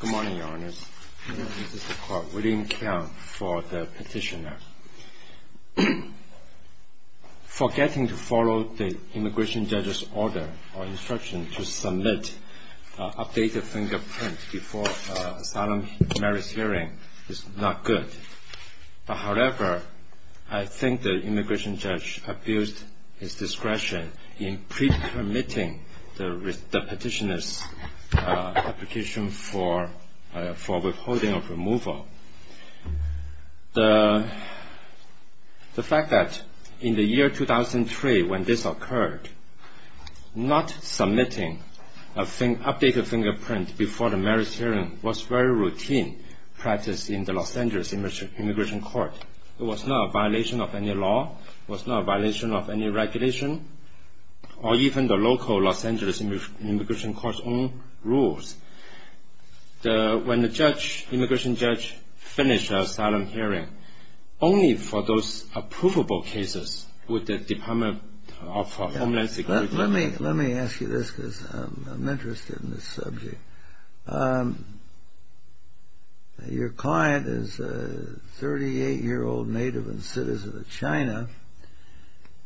Good morning, Your Honours. This is the court, William Keong, for the petitioner. Forgetting to follow the immigration judge's order or instruction to submit an updated fingerprint before an asylum merits hearing is not good. However, I think the immigration judge abused his discretion in pre-permitting the petitioner's application for withholding of removal. The fact that in the year 2003 when this occurred, not submitting an updated fingerprint before the merits hearing was very routine practice in the Los Angeles Immigration Court. It was not a violation of any law, it was not a violation of any regulation, or even the local Los Angeles Immigration Court's own rules. When the immigration judge finished the asylum hearing, only for those approvable cases would the Department of Homeland Security... Let me ask you this because I'm interested in this subject. Your client is a 38-year-old native and citizen of China,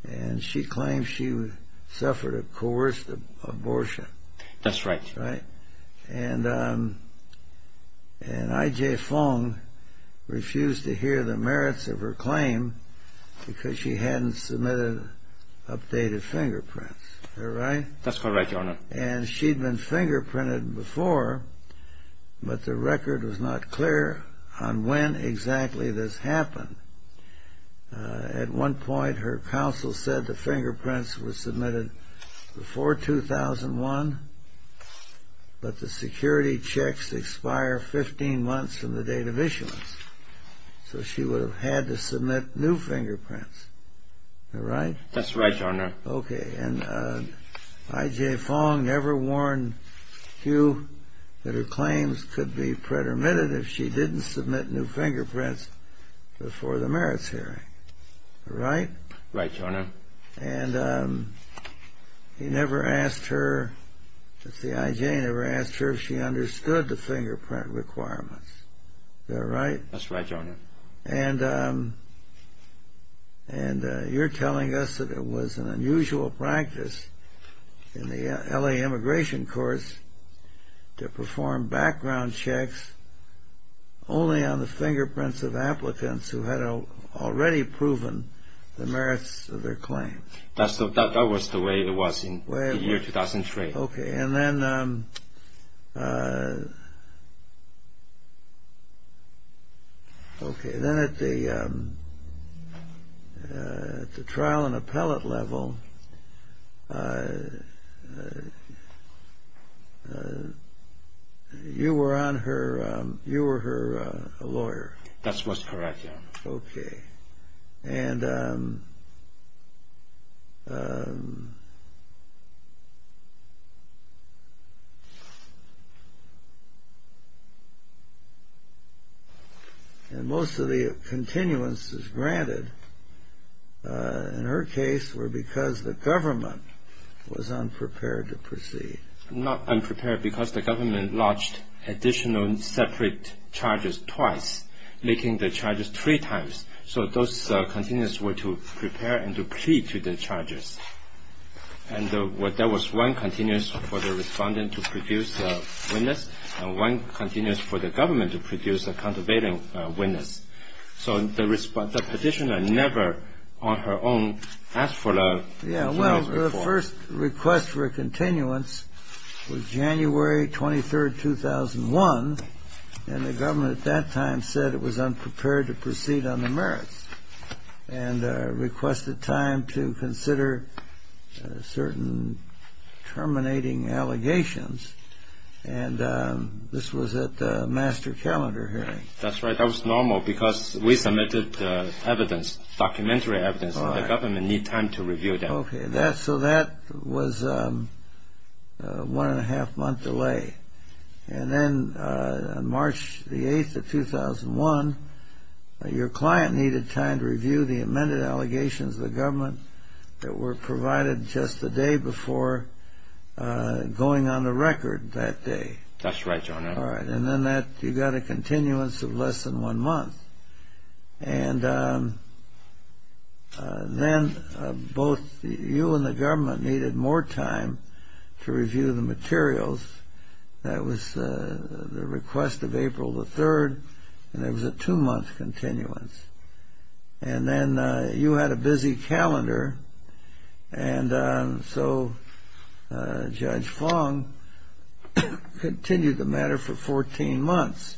and she claims she suffered a coerced abortion. That's right. And I.J. Fong refused to hear the merits of her claim because she hadn't submitted updated fingerprints. Is that right? That's correct, Your Honour. And she'd been fingerprinted before, but the record was not clear on when exactly this happened. At one point, her counsel said the fingerprints were submitted before 2001, but the security checks expire 15 months from the date of issuance. So she would have had to submit new fingerprints. Is that right? That's right, Your Honour. Okay, and I.J. Fong never warned Hugh that her claims could be pretermitted if she didn't submit new fingerprints before the merits hearing. Right? Right, Your Honour. And he never asked her... I.J. never asked her if she understood the fingerprint requirements. Is that right? That's right, Your Honour. And you're telling us that it was an unusual practice in the L.A. immigration courts to perform background checks only on the fingerprints of applicants who had already proven the merits of their claim. That was the way it was in the year 2003. Okay, and then at the trial and appellate level, you were her lawyer. That's what's correct, Your Honour. Okay, and most of the continuances granted in her case were because the government was unprepared to proceed. Because the government lodged additional separate charges twice, making the charges three times. So those continuances were to prepare and to plead to the charges. And there was one continuance for the respondent to produce a witness and one continuance for the government to produce a countervailing witness. So the petitioner never on her own asked for the continuance report. Yeah, well, the first request for a continuance was January 23, 2001. And the government at that time said it was unprepared to proceed on the merits and requested time to consider certain terminating allegations. And this was at the master calendar hearing. That's right, that was normal because we submitted the evidence, documentary evidence, and the government needed time to review them. Okay, so that was a one-and-a-half-month delay. And then on March 8, 2001, your client needed time to review the amended allegations of the government that were provided just the day before going on the record that day. That's right, Your Honour. All right, and then you got a continuance of less than one month. And then both you and the government needed more time to review the materials. That was the request of April the 3rd, and it was a two-month continuance. And then you had a busy calendar, and so Judge Fong continued the matter for 14 months,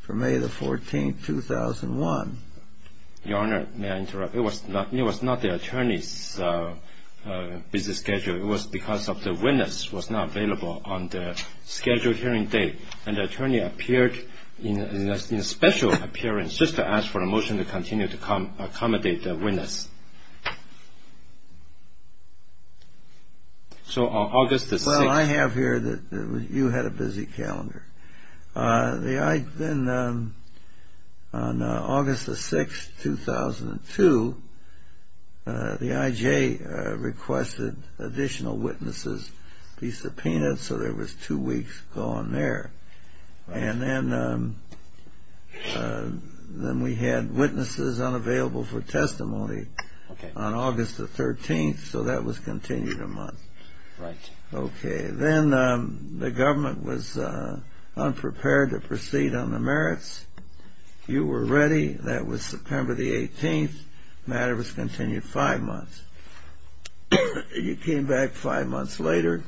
for May the 14th, 2001. Your Honour, may I interrupt? It was not the attorney's busy schedule. It was because the witness was not available on the scheduled hearing date. And the attorney appeared in a special appearance just to ask for a motion to continue to accommodate the witness. So on August the 6th… Well, I have here that you had a busy calendar. Then on August the 6th, 2002, the IJ requested additional witnesses be subpoenaed, so there was two weeks gone there. And then we had witnesses unavailable for testimony on August the 13th, so that was continued a month. Right. Okay. Then the government was unprepared to proceed on the merits. You were ready. That was September the 18th. The matter was continued five months. You came back five months later,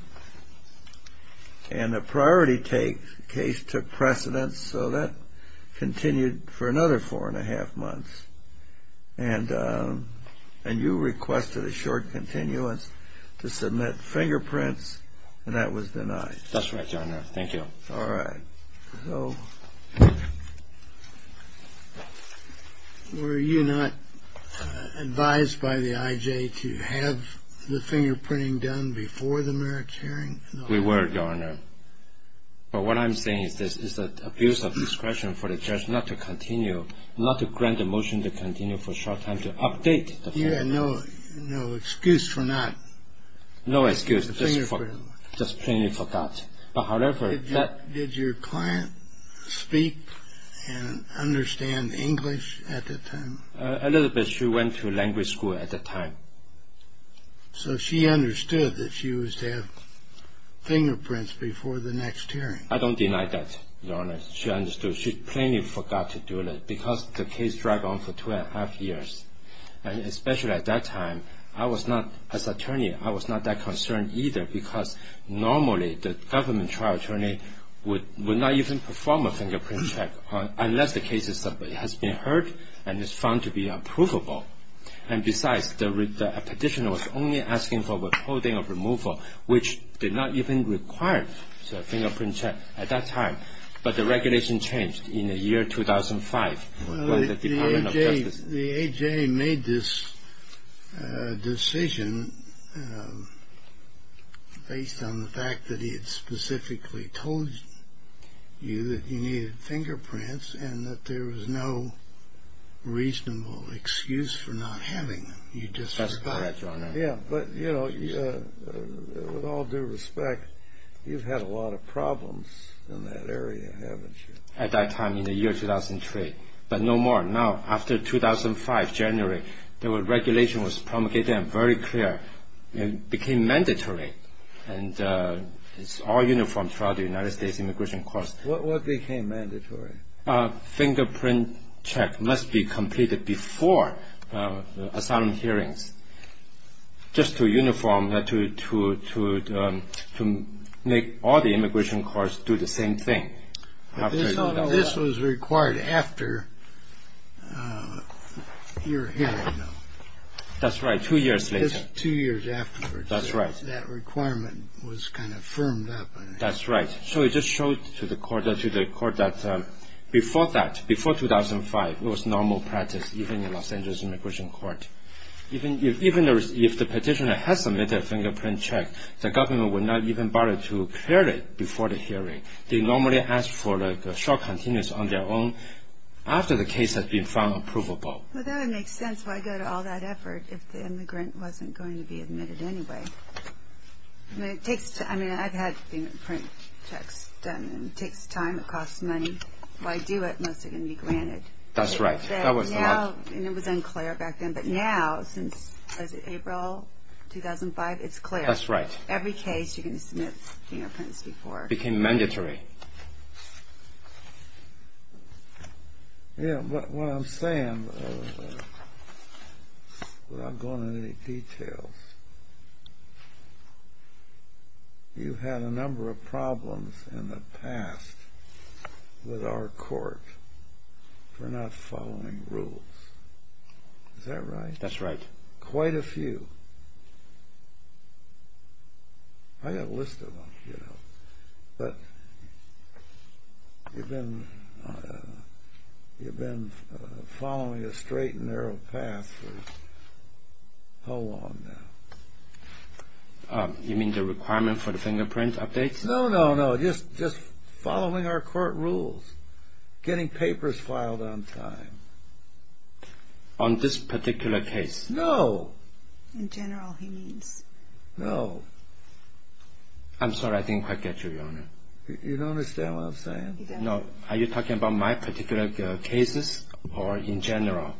and a priority case took precedence, so that continued for another four-and-a-half months. And you requested a short continuance to submit fingerprints, and that was denied. That's right, Your Honour. Thank you. All right. Were you not advised by the IJ to have the fingerprinting done before the merits hearing? We were, Your Honour. But what I'm saying is this. It's an abuse of discretion for the judge not to continue, not to grant a motion to continue for a short time to update the fingerprint. You had no excuse for not… No excuse, just plainly forgot. But however, that… Did your client speak and understand English at that time? A little bit. She went to language school at that time. So she understood that she was to have fingerprints before the next hearing. I don't deny that, Your Honour. She understood. She plainly forgot to do it because the case dragged on for two-and-a-half years. And especially at that time, I was not, as attorney, I was not that concerned either because normally the government trial attorney would not even perform a fingerprint check unless the case has been heard and is found to be unprovable. And besides, the petitioner was only asking for withholding of removal, which did not even require a fingerprint check at that time. But the regulation changed in the year 2005 when the Department of Justice… The A.J. made this decision based on the fact that he had specifically told you that he needed fingerprints and that there was no reasonable excuse for not having them. You just… That's correct, Your Honour. Yeah, but, you know, with all due respect, you've had a lot of problems in that area, haven't you? At that time, in the year 2003. But no more now. After 2005, January, the regulation was promulgated and very clear. It became mandatory. And it's all uniform throughout the United States immigration courts. What became mandatory? A fingerprint check must be completed before asylum hearings just to uniform, to make all the immigration courts do the same thing. This was required after your hearing, though. That's right, two years later. Two years afterwards. That's right. That requirement was kind of firmed up. That's right. So it just showed to the court that before that, before 2005, it was normal practice, even in Los Angeles immigration court. Even if the petitioner has submitted a fingerprint check, the government would not even bother to clear it before the hearing. They normally ask for a short continence on their own after the case has been found approvable. Well, that would make sense. Why go to all that effort if the immigrant wasn't going to be admitted anyway? It takes time. I mean, I've had fingerprint checks done. It takes time. It costs money. If I do it, most are going to be granted. That's right. And it was unclear back then, but now, since April 2005, it's clear. That's right. Every case, you're going to submit fingerprints before. It became mandatory. Yeah, but what I'm saying, without going into any details, you've had a number of problems in the past with our court for not following rules. Is that right? That's right. Quite a few. I've got a list of them, you know. But you've been following a straight and narrow path for how long now? You mean the requirement for the fingerprint updates? No, no, no. Just following our court rules, getting papers filed on time. On this particular case? No. In general, he means. No. I'm sorry. I didn't quite get you, Your Honor. You don't understand what I'm saying. No. Are you talking about my particular cases or in general?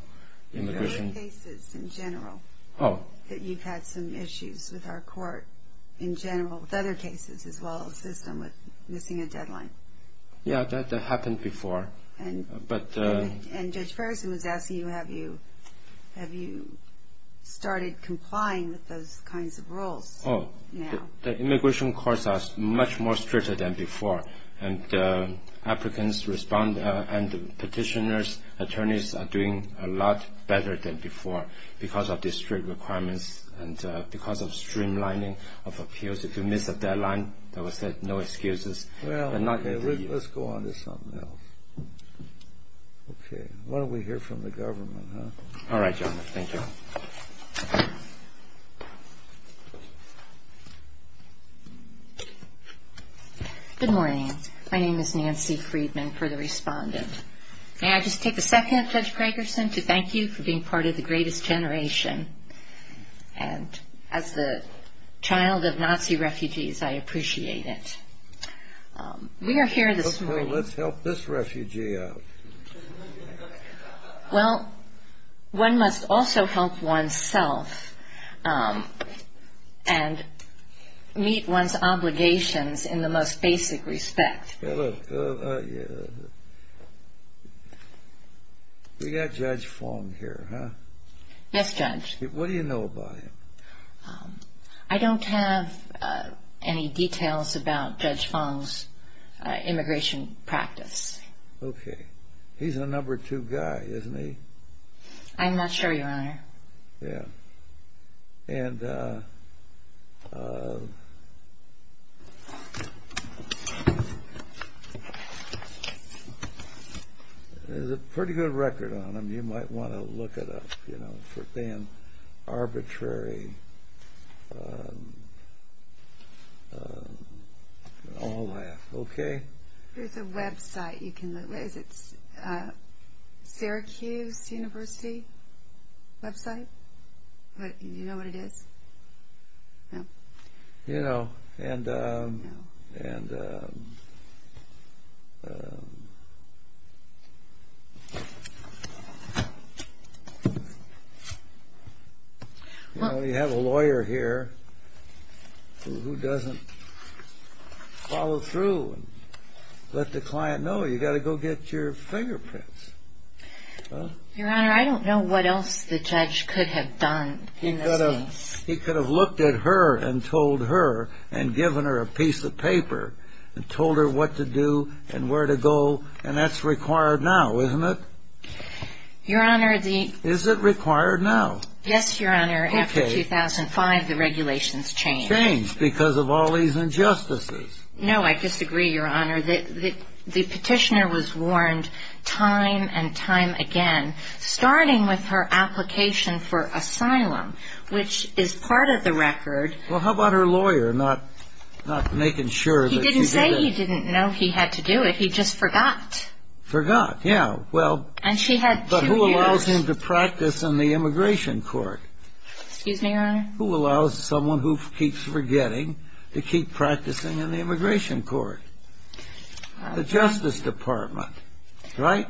Your cases in general. Oh. That you've had some issues with our court in general, with other cases as well as this one with missing a deadline. Yeah, that happened before. And Judge Ferguson was asking you, have you started complying with those kinds of rules now? The immigration courts are much more stricter than before, and the applicants respond and the petitioners, attorneys, are doing a lot better than before because of the strict requirements and because of streamlining of appeals. If you miss a deadline, there was no excuses. Well, let's go on to something else. Okay. Why don't we hear from the government, huh? All right, Your Honor. Thank you. Good morning. My name is Nancy Friedman, for the respondent. May I just take a second, Judge Ferguson, to thank you for being part of the greatest generation? And as the child of Nazi refugees, I appreciate it. We are here this morning. Let's help this refugee out. Well, one must also help oneself and meet one's obligations in the most basic respect. We got Judge Fong here, huh? Yes, Judge. What do you know about him? I don't have any details about Judge Fong's immigration practice. Okay. He's a number two guy, isn't he? I'm not sure, Your Honor. Yeah. And there's a pretty good record on him. You might want to look it up, you know, for being arbitrary and all that. Okay? There's a website you can look at. Is it Syracuse University website? Do you know what it is? No. You know, you have a lawyer here who doesn't follow through and let the client know. You've got to go get your fingerprints. Your Honor, I don't know what else the judge could have done in this case. He could have looked at her and told her and given her a piece of paper and told her what to do and where to go, and that's required now, isn't it? Your Honor, the... Is it required now? Yes, Your Honor. Okay. After 2005, the regulations changed. Changed because of all these injustices. No, I disagree, Your Honor. The petitioner was warned time and time again, starting with her application for asylum, which is part of the record. Well, how about her lawyer not making sure that she did it? He didn't say he didn't know he had to do it. He just forgot. Forgot, yeah. Well... And she had two years. But who allows him to practice in the immigration court? Excuse me, Your Honor? Who allows someone who keeps forgetting to keep practicing in the immigration court? The Justice Department, right?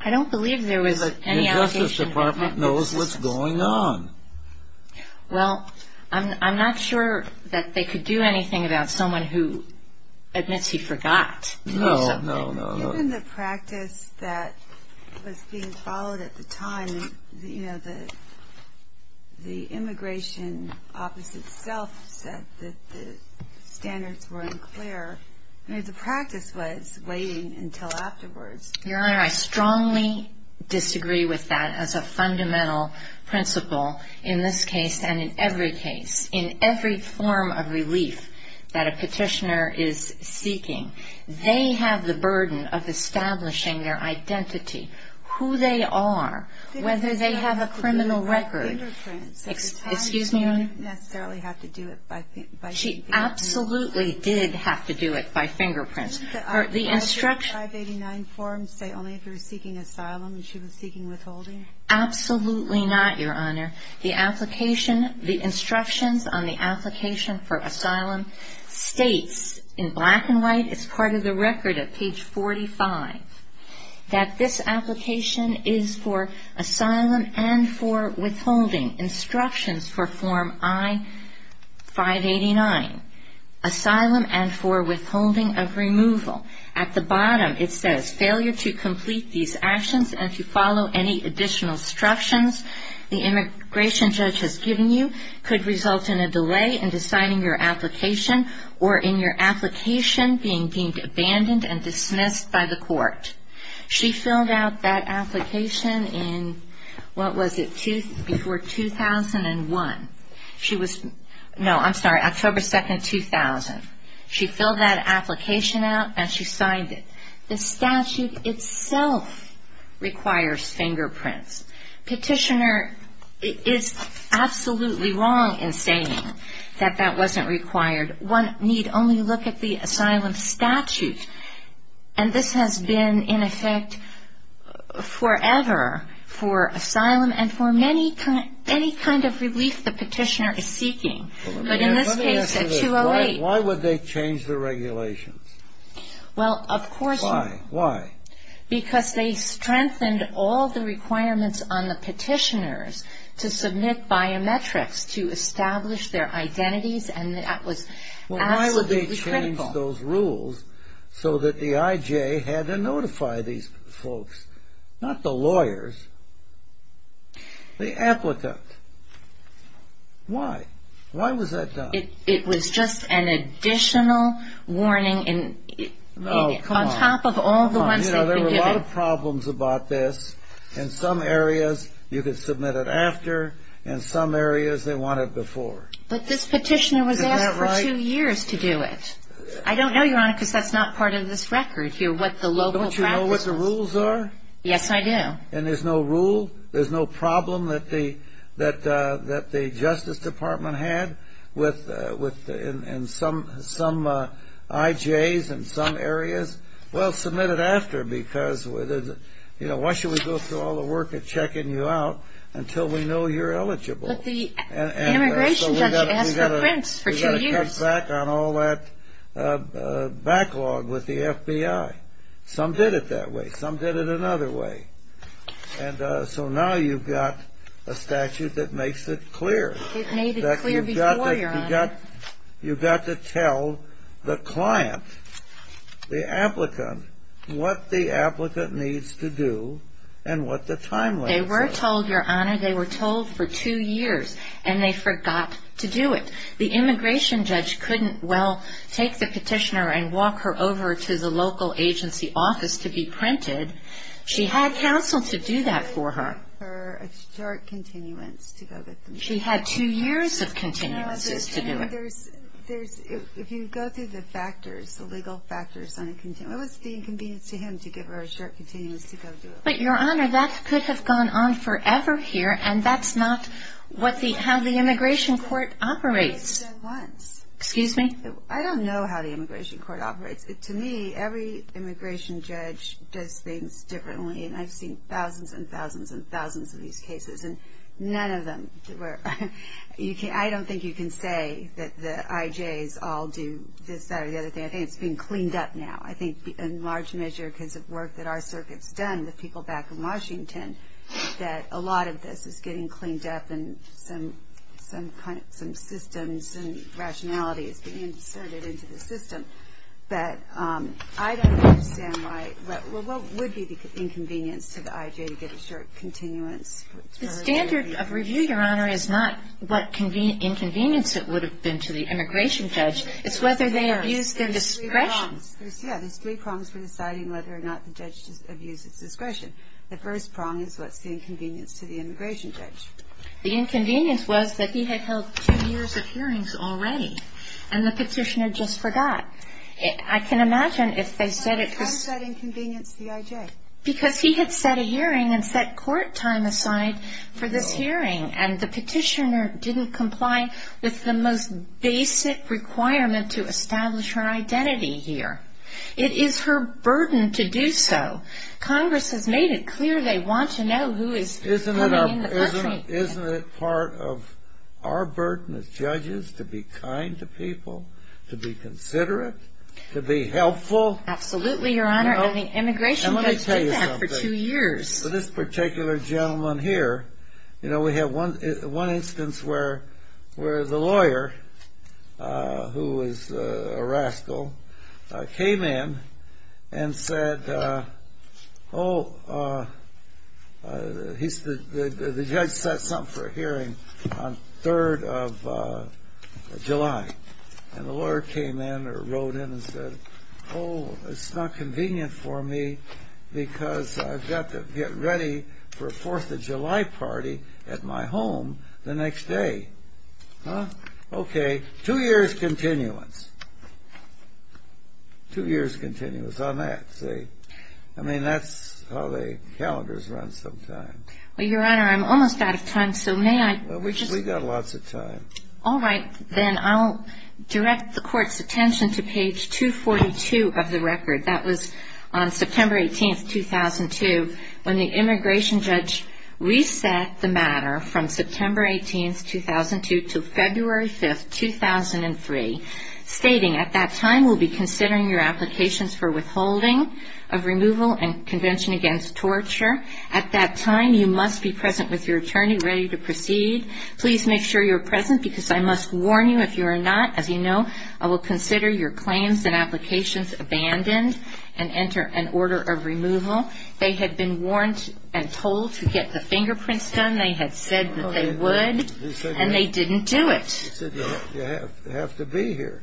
I don't believe there was any allegation... Well, what's going on? Well, I'm not sure that they could do anything about someone who admits he forgot to do something. No, no, no. Given the practice that was being followed at the time, you know, the immigration office itself said that the standards were unclear. I mean, the practice was waiting until afterwards. Your Honor, I strongly disagree with that as a fundamental principle in this case and in every case. In every form of relief that a petitioner is seeking, they have the burden of establishing their identity, who they are, whether they have a criminal record. Excuse me, Your Honor? She absolutely did have to do it by fingerprints. Didn't the I-589 form say only if you were seeking asylum and she was seeking withholding? Absolutely not, Your Honor. The application, the instructions on the application for asylum states in black and white, it's part of the record at page 45, that this application is for asylum and for withholding, instructions for form I-589, asylum and for withholding of removal. At the bottom it says failure to complete these actions and to follow any additional instructions the immigration judge has given you could result in a delay in deciding your application or in your application being deemed abandoned and dismissed by the court. She filled out that application in, what was it, before 2001. No, I'm sorry, October 2nd, 2000. She filled that application out and she signed it. The statute itself requires fingerprints. Petitioner is absolutely wrong in saying that that wasn't required. One need only look at the asylum statute, and this has been in effect forever for asylum and for any kind of relief the petitioner is seeking, but in this case at 208. Why would they change the regulations? Well, of course you would. Why? Why? Because they strengthened all the requirements on the petitioners to submit biometrics to establish their identities, and that was absolutely critical. Well, why would they change those rules so that the IJ had to notify these folks? Not the lawyers, the applicant. Why? Why was that done? It was just an additional warning on top of all the ones they've been given. There were a lot of problems about this. In some areas you could submit it after, in some areas they want it before. But this petitioner was asked for two years to do it. I don't know, Your Honor, because that's not part of this record here, what the local practice was. Don't you know what the rules are? Yes, I do. And there's no rule? There's no problem that the Justice Department had with some IJs in some areas? Well, submit it after because why should we go through all the work of checking you out until we know you're eligible? But the immigration judge asked for prints for two years. Well, they cut back on all that backlog with the FBI. Some did it that way. Some did it another way. And so now you've got a statute that makes it clear. It made it clear before, Your Honor. You've got to tell the client, the applicant, what the applicant needs to do and what the timeline says. They were told, Your Honor, they were told for two years, and they forgot to do it. The immigration judge couldn't, well, take the petitioner and walk her over to the local agency office to be printed. She had counsel to do that for her. They gave her a short continuance to go with them. She had two years of continuances to do it. If you go through the factors, the legal factors on a continuance, it was the inconvenience to him to give her a short continuance to go do it. But, Your Honor, that could have gone on forever here, and that's not how the immigration court operates. Excuse me? I don't know how the immigration court operates. To me, every immigration judge does things differently, and I've seen thousands and thousands and thousands of these cases, and none of them were you can't, I don't think you can say that the IJs all do this, that, or the other thing. I think it's being cleaned up now. I think in large measure because of work that our circuit's done, the people back in Washington, that a lot of this is getting cleaned up and some systems and rationality is being inserted into the system. But I don't understand why, well, what would be the inconvenience to the IJ to get a short continuance? The standard of review, Your Honor, is not what inconvenience it would have been to the immigration judge. It's whether they abused their discretion. Yeah, there's three prongs for deciding whether or not the judge abused his discretion. The first prong is what's the inconvenience to the immigration judge. The inconvenience was that he had held two years of hearings already, and the petitioner just forgot. I can imagine if they said it was... How is that inconvenience to the IJ? Because he had set a hearing and set court time aside for this hearing, and the petitioner didn't comply with the most basic requirement to establish her identity here. It is her burden to do so. Congress has made it clear they want to know who is coming in the country. Isn't it part of our burden as judges to be kind to people, to be considerate, to be helpful? Absolutely, Your Honor, and the immigration judge did that for two years. Let me tell you something. For this particular gentleman here, we have one instance where the lawyer, who is a rascal, came in and said, oh, the judge set something for a hearing on 3rd of July, and the lawyer came in or wrote in and said, oh, it's not convenient for me because I've got to get ready for a 4th of July party at my home the next day. Okay. Two years' continuance. Two years' continuance on that. I mean, that's how the calendars run sometimes. Well, Your Honor, I'm almost out of time, so may I? We've got lots of time. All right, then. I'll direct the Court's attention to page 242 of the record. That was on September 18, 2002, when the immigration judge reset the matter from September 18, 2002, to February 5, 2003, stating, at that time we'll be considering your applications for withholding of removal and convention against torture. At that time, you must be present with your attorney, ready to proceed. Please make sure you're present, because I must warn you, if you are not, as you know, I will consider your claims and applications abandoned and enter an order of removal. They had been warned and told to get the fingerprints done. They had said that they would, and they didn't do it. They said, you have to be here.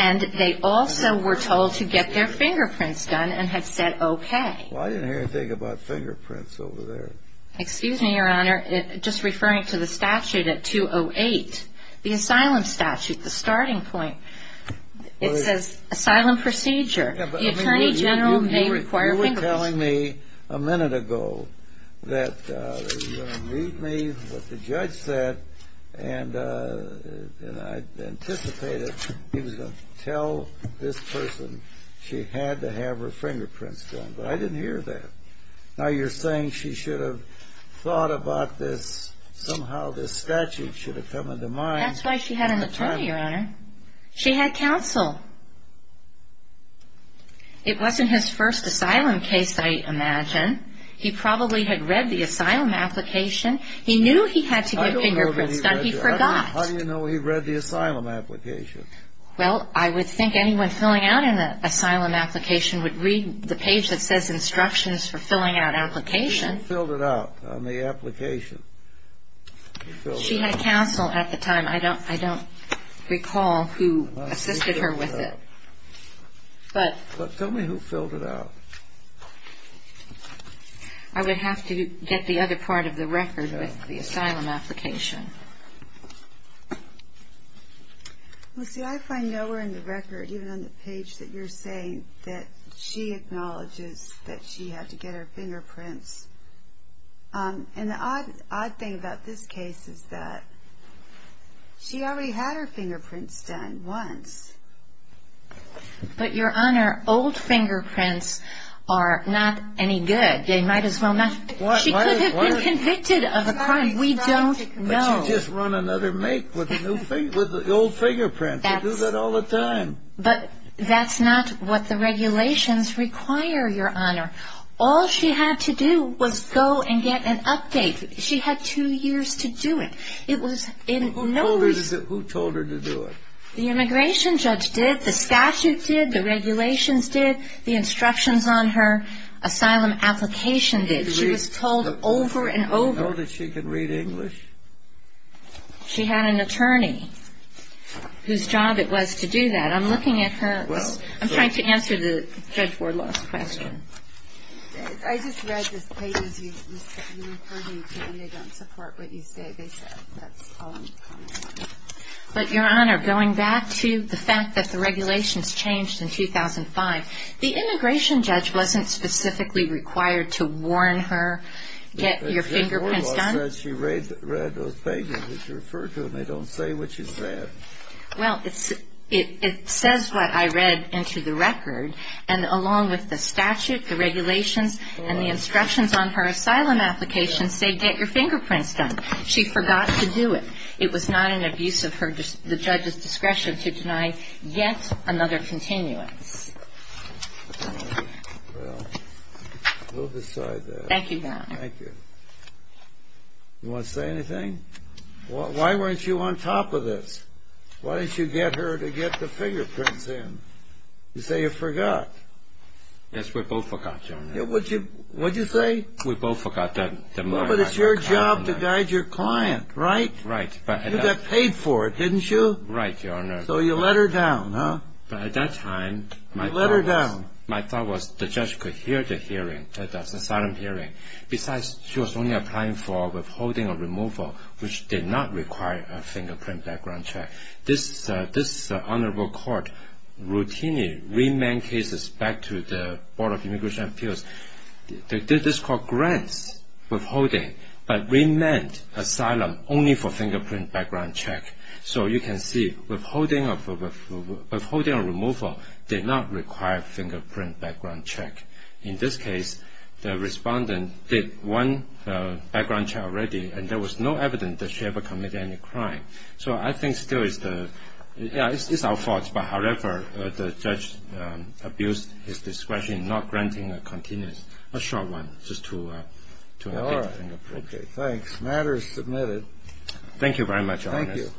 And they also were told to get their fingerprints done and had said, okay. Well, I didn't hear anything about fingerprints over there. Excuse me, Your Honor, just referring to the statute at 208, the asylum statute, the starting point, it says, asylum procedure. You were telling me a minute ago that you were going to meet me with the judge and I anticipated he was going to tell this person she had to have her fingerprints done, but I didn't hear that. Now you're saying she should have thought about this, somehow this statute should have come into mind. That's why she had an attorney, Your Honor. She had counsel. It wasn't his first asylum case, I imagine. He probably had read the asylum application. He knew he had to get fingerprints done. He forgot. How do you know he read the asylum application? Well, I would think anyone filling out an asylum application would read the page that says instructions for filling out applications. She filled it out on the application. She had counsel at the time. I don't recall who assisted her with it. Tell me who filled it out. I would have to get the other part of the record with the asylum application. Lucy, I find nowhere in the record, even on the page that you're saying, that she acknowledges that she had to get her fingerprints. And the odd thing about this case is that she already had her fingerprints done once. But, Your Honor, old fingerprints are not any good. They might as well not be. She could have been convicted of a crime. We don't know. But you just run another make with the old fingerprints. You do that all the time. But that's not what the regulations require, Your Honor. All she had to do was go and get an update. She had two years to do it. Who told her to do it? The immigration judge did. The statute did. The regulations did. The instructions on her asylum application did. She was told over and over. Did she know that she could read English? She had an attorney whose job it was to do that. I'm looking at her. I'm trying to answer Judge Wardlaw's question. I just read the pages you referred me to, and they don't support what you say. That's all I'm commenting on. But, Your Honor, going back to the fact that the regulations changed in 2005, the immigration judge wasn't specifically required to warn her, get your fingerprints done? Judge Wardlaw said she read those pages that you referred to, and they don't say what she said. Well, it says what I read into the record. And along with the statute, the regulations, and the instructions on her asylum application say get your fingerprints done. She forgot to do it. It was not in abuse of the judge's discretion to deny yet another continuance. All right. Well, we'll decide that. Thank you, Your Honor. Thank you. You want to say anything? Why weren't you on top of this? Why didn't you get her to get the fingerprints in? You say you forgot. Yes, we both forgot, Your Honor. What did you say? We both forgot. But it's your job to guide your client, right? Right. You got paid for it, didn't you? Right, Your Honor. So you let her down, huh? At that time, my thought was the judge could hear the hearing, the asylum hearing. Besides, she was only applying for withholding or removal, which did not require a fingerprint background check. This honorable court routinely remanded cases back to the Board of Immigration Appeals. They did this called grants withholding, but remanded asylum only for fingerprint background check. So you can see withholding or removal did not require fingerprint background check. In this case, the respondent did one background check already, and there was no evidence that she ever committed any crime. So I think still it's our fault. However, the judge abused his discretion, not granting a continuous, a short one, just to make it appropriate. All right. Thanks. Matter is submitted. Thank you very much, Your Honor. Thank you.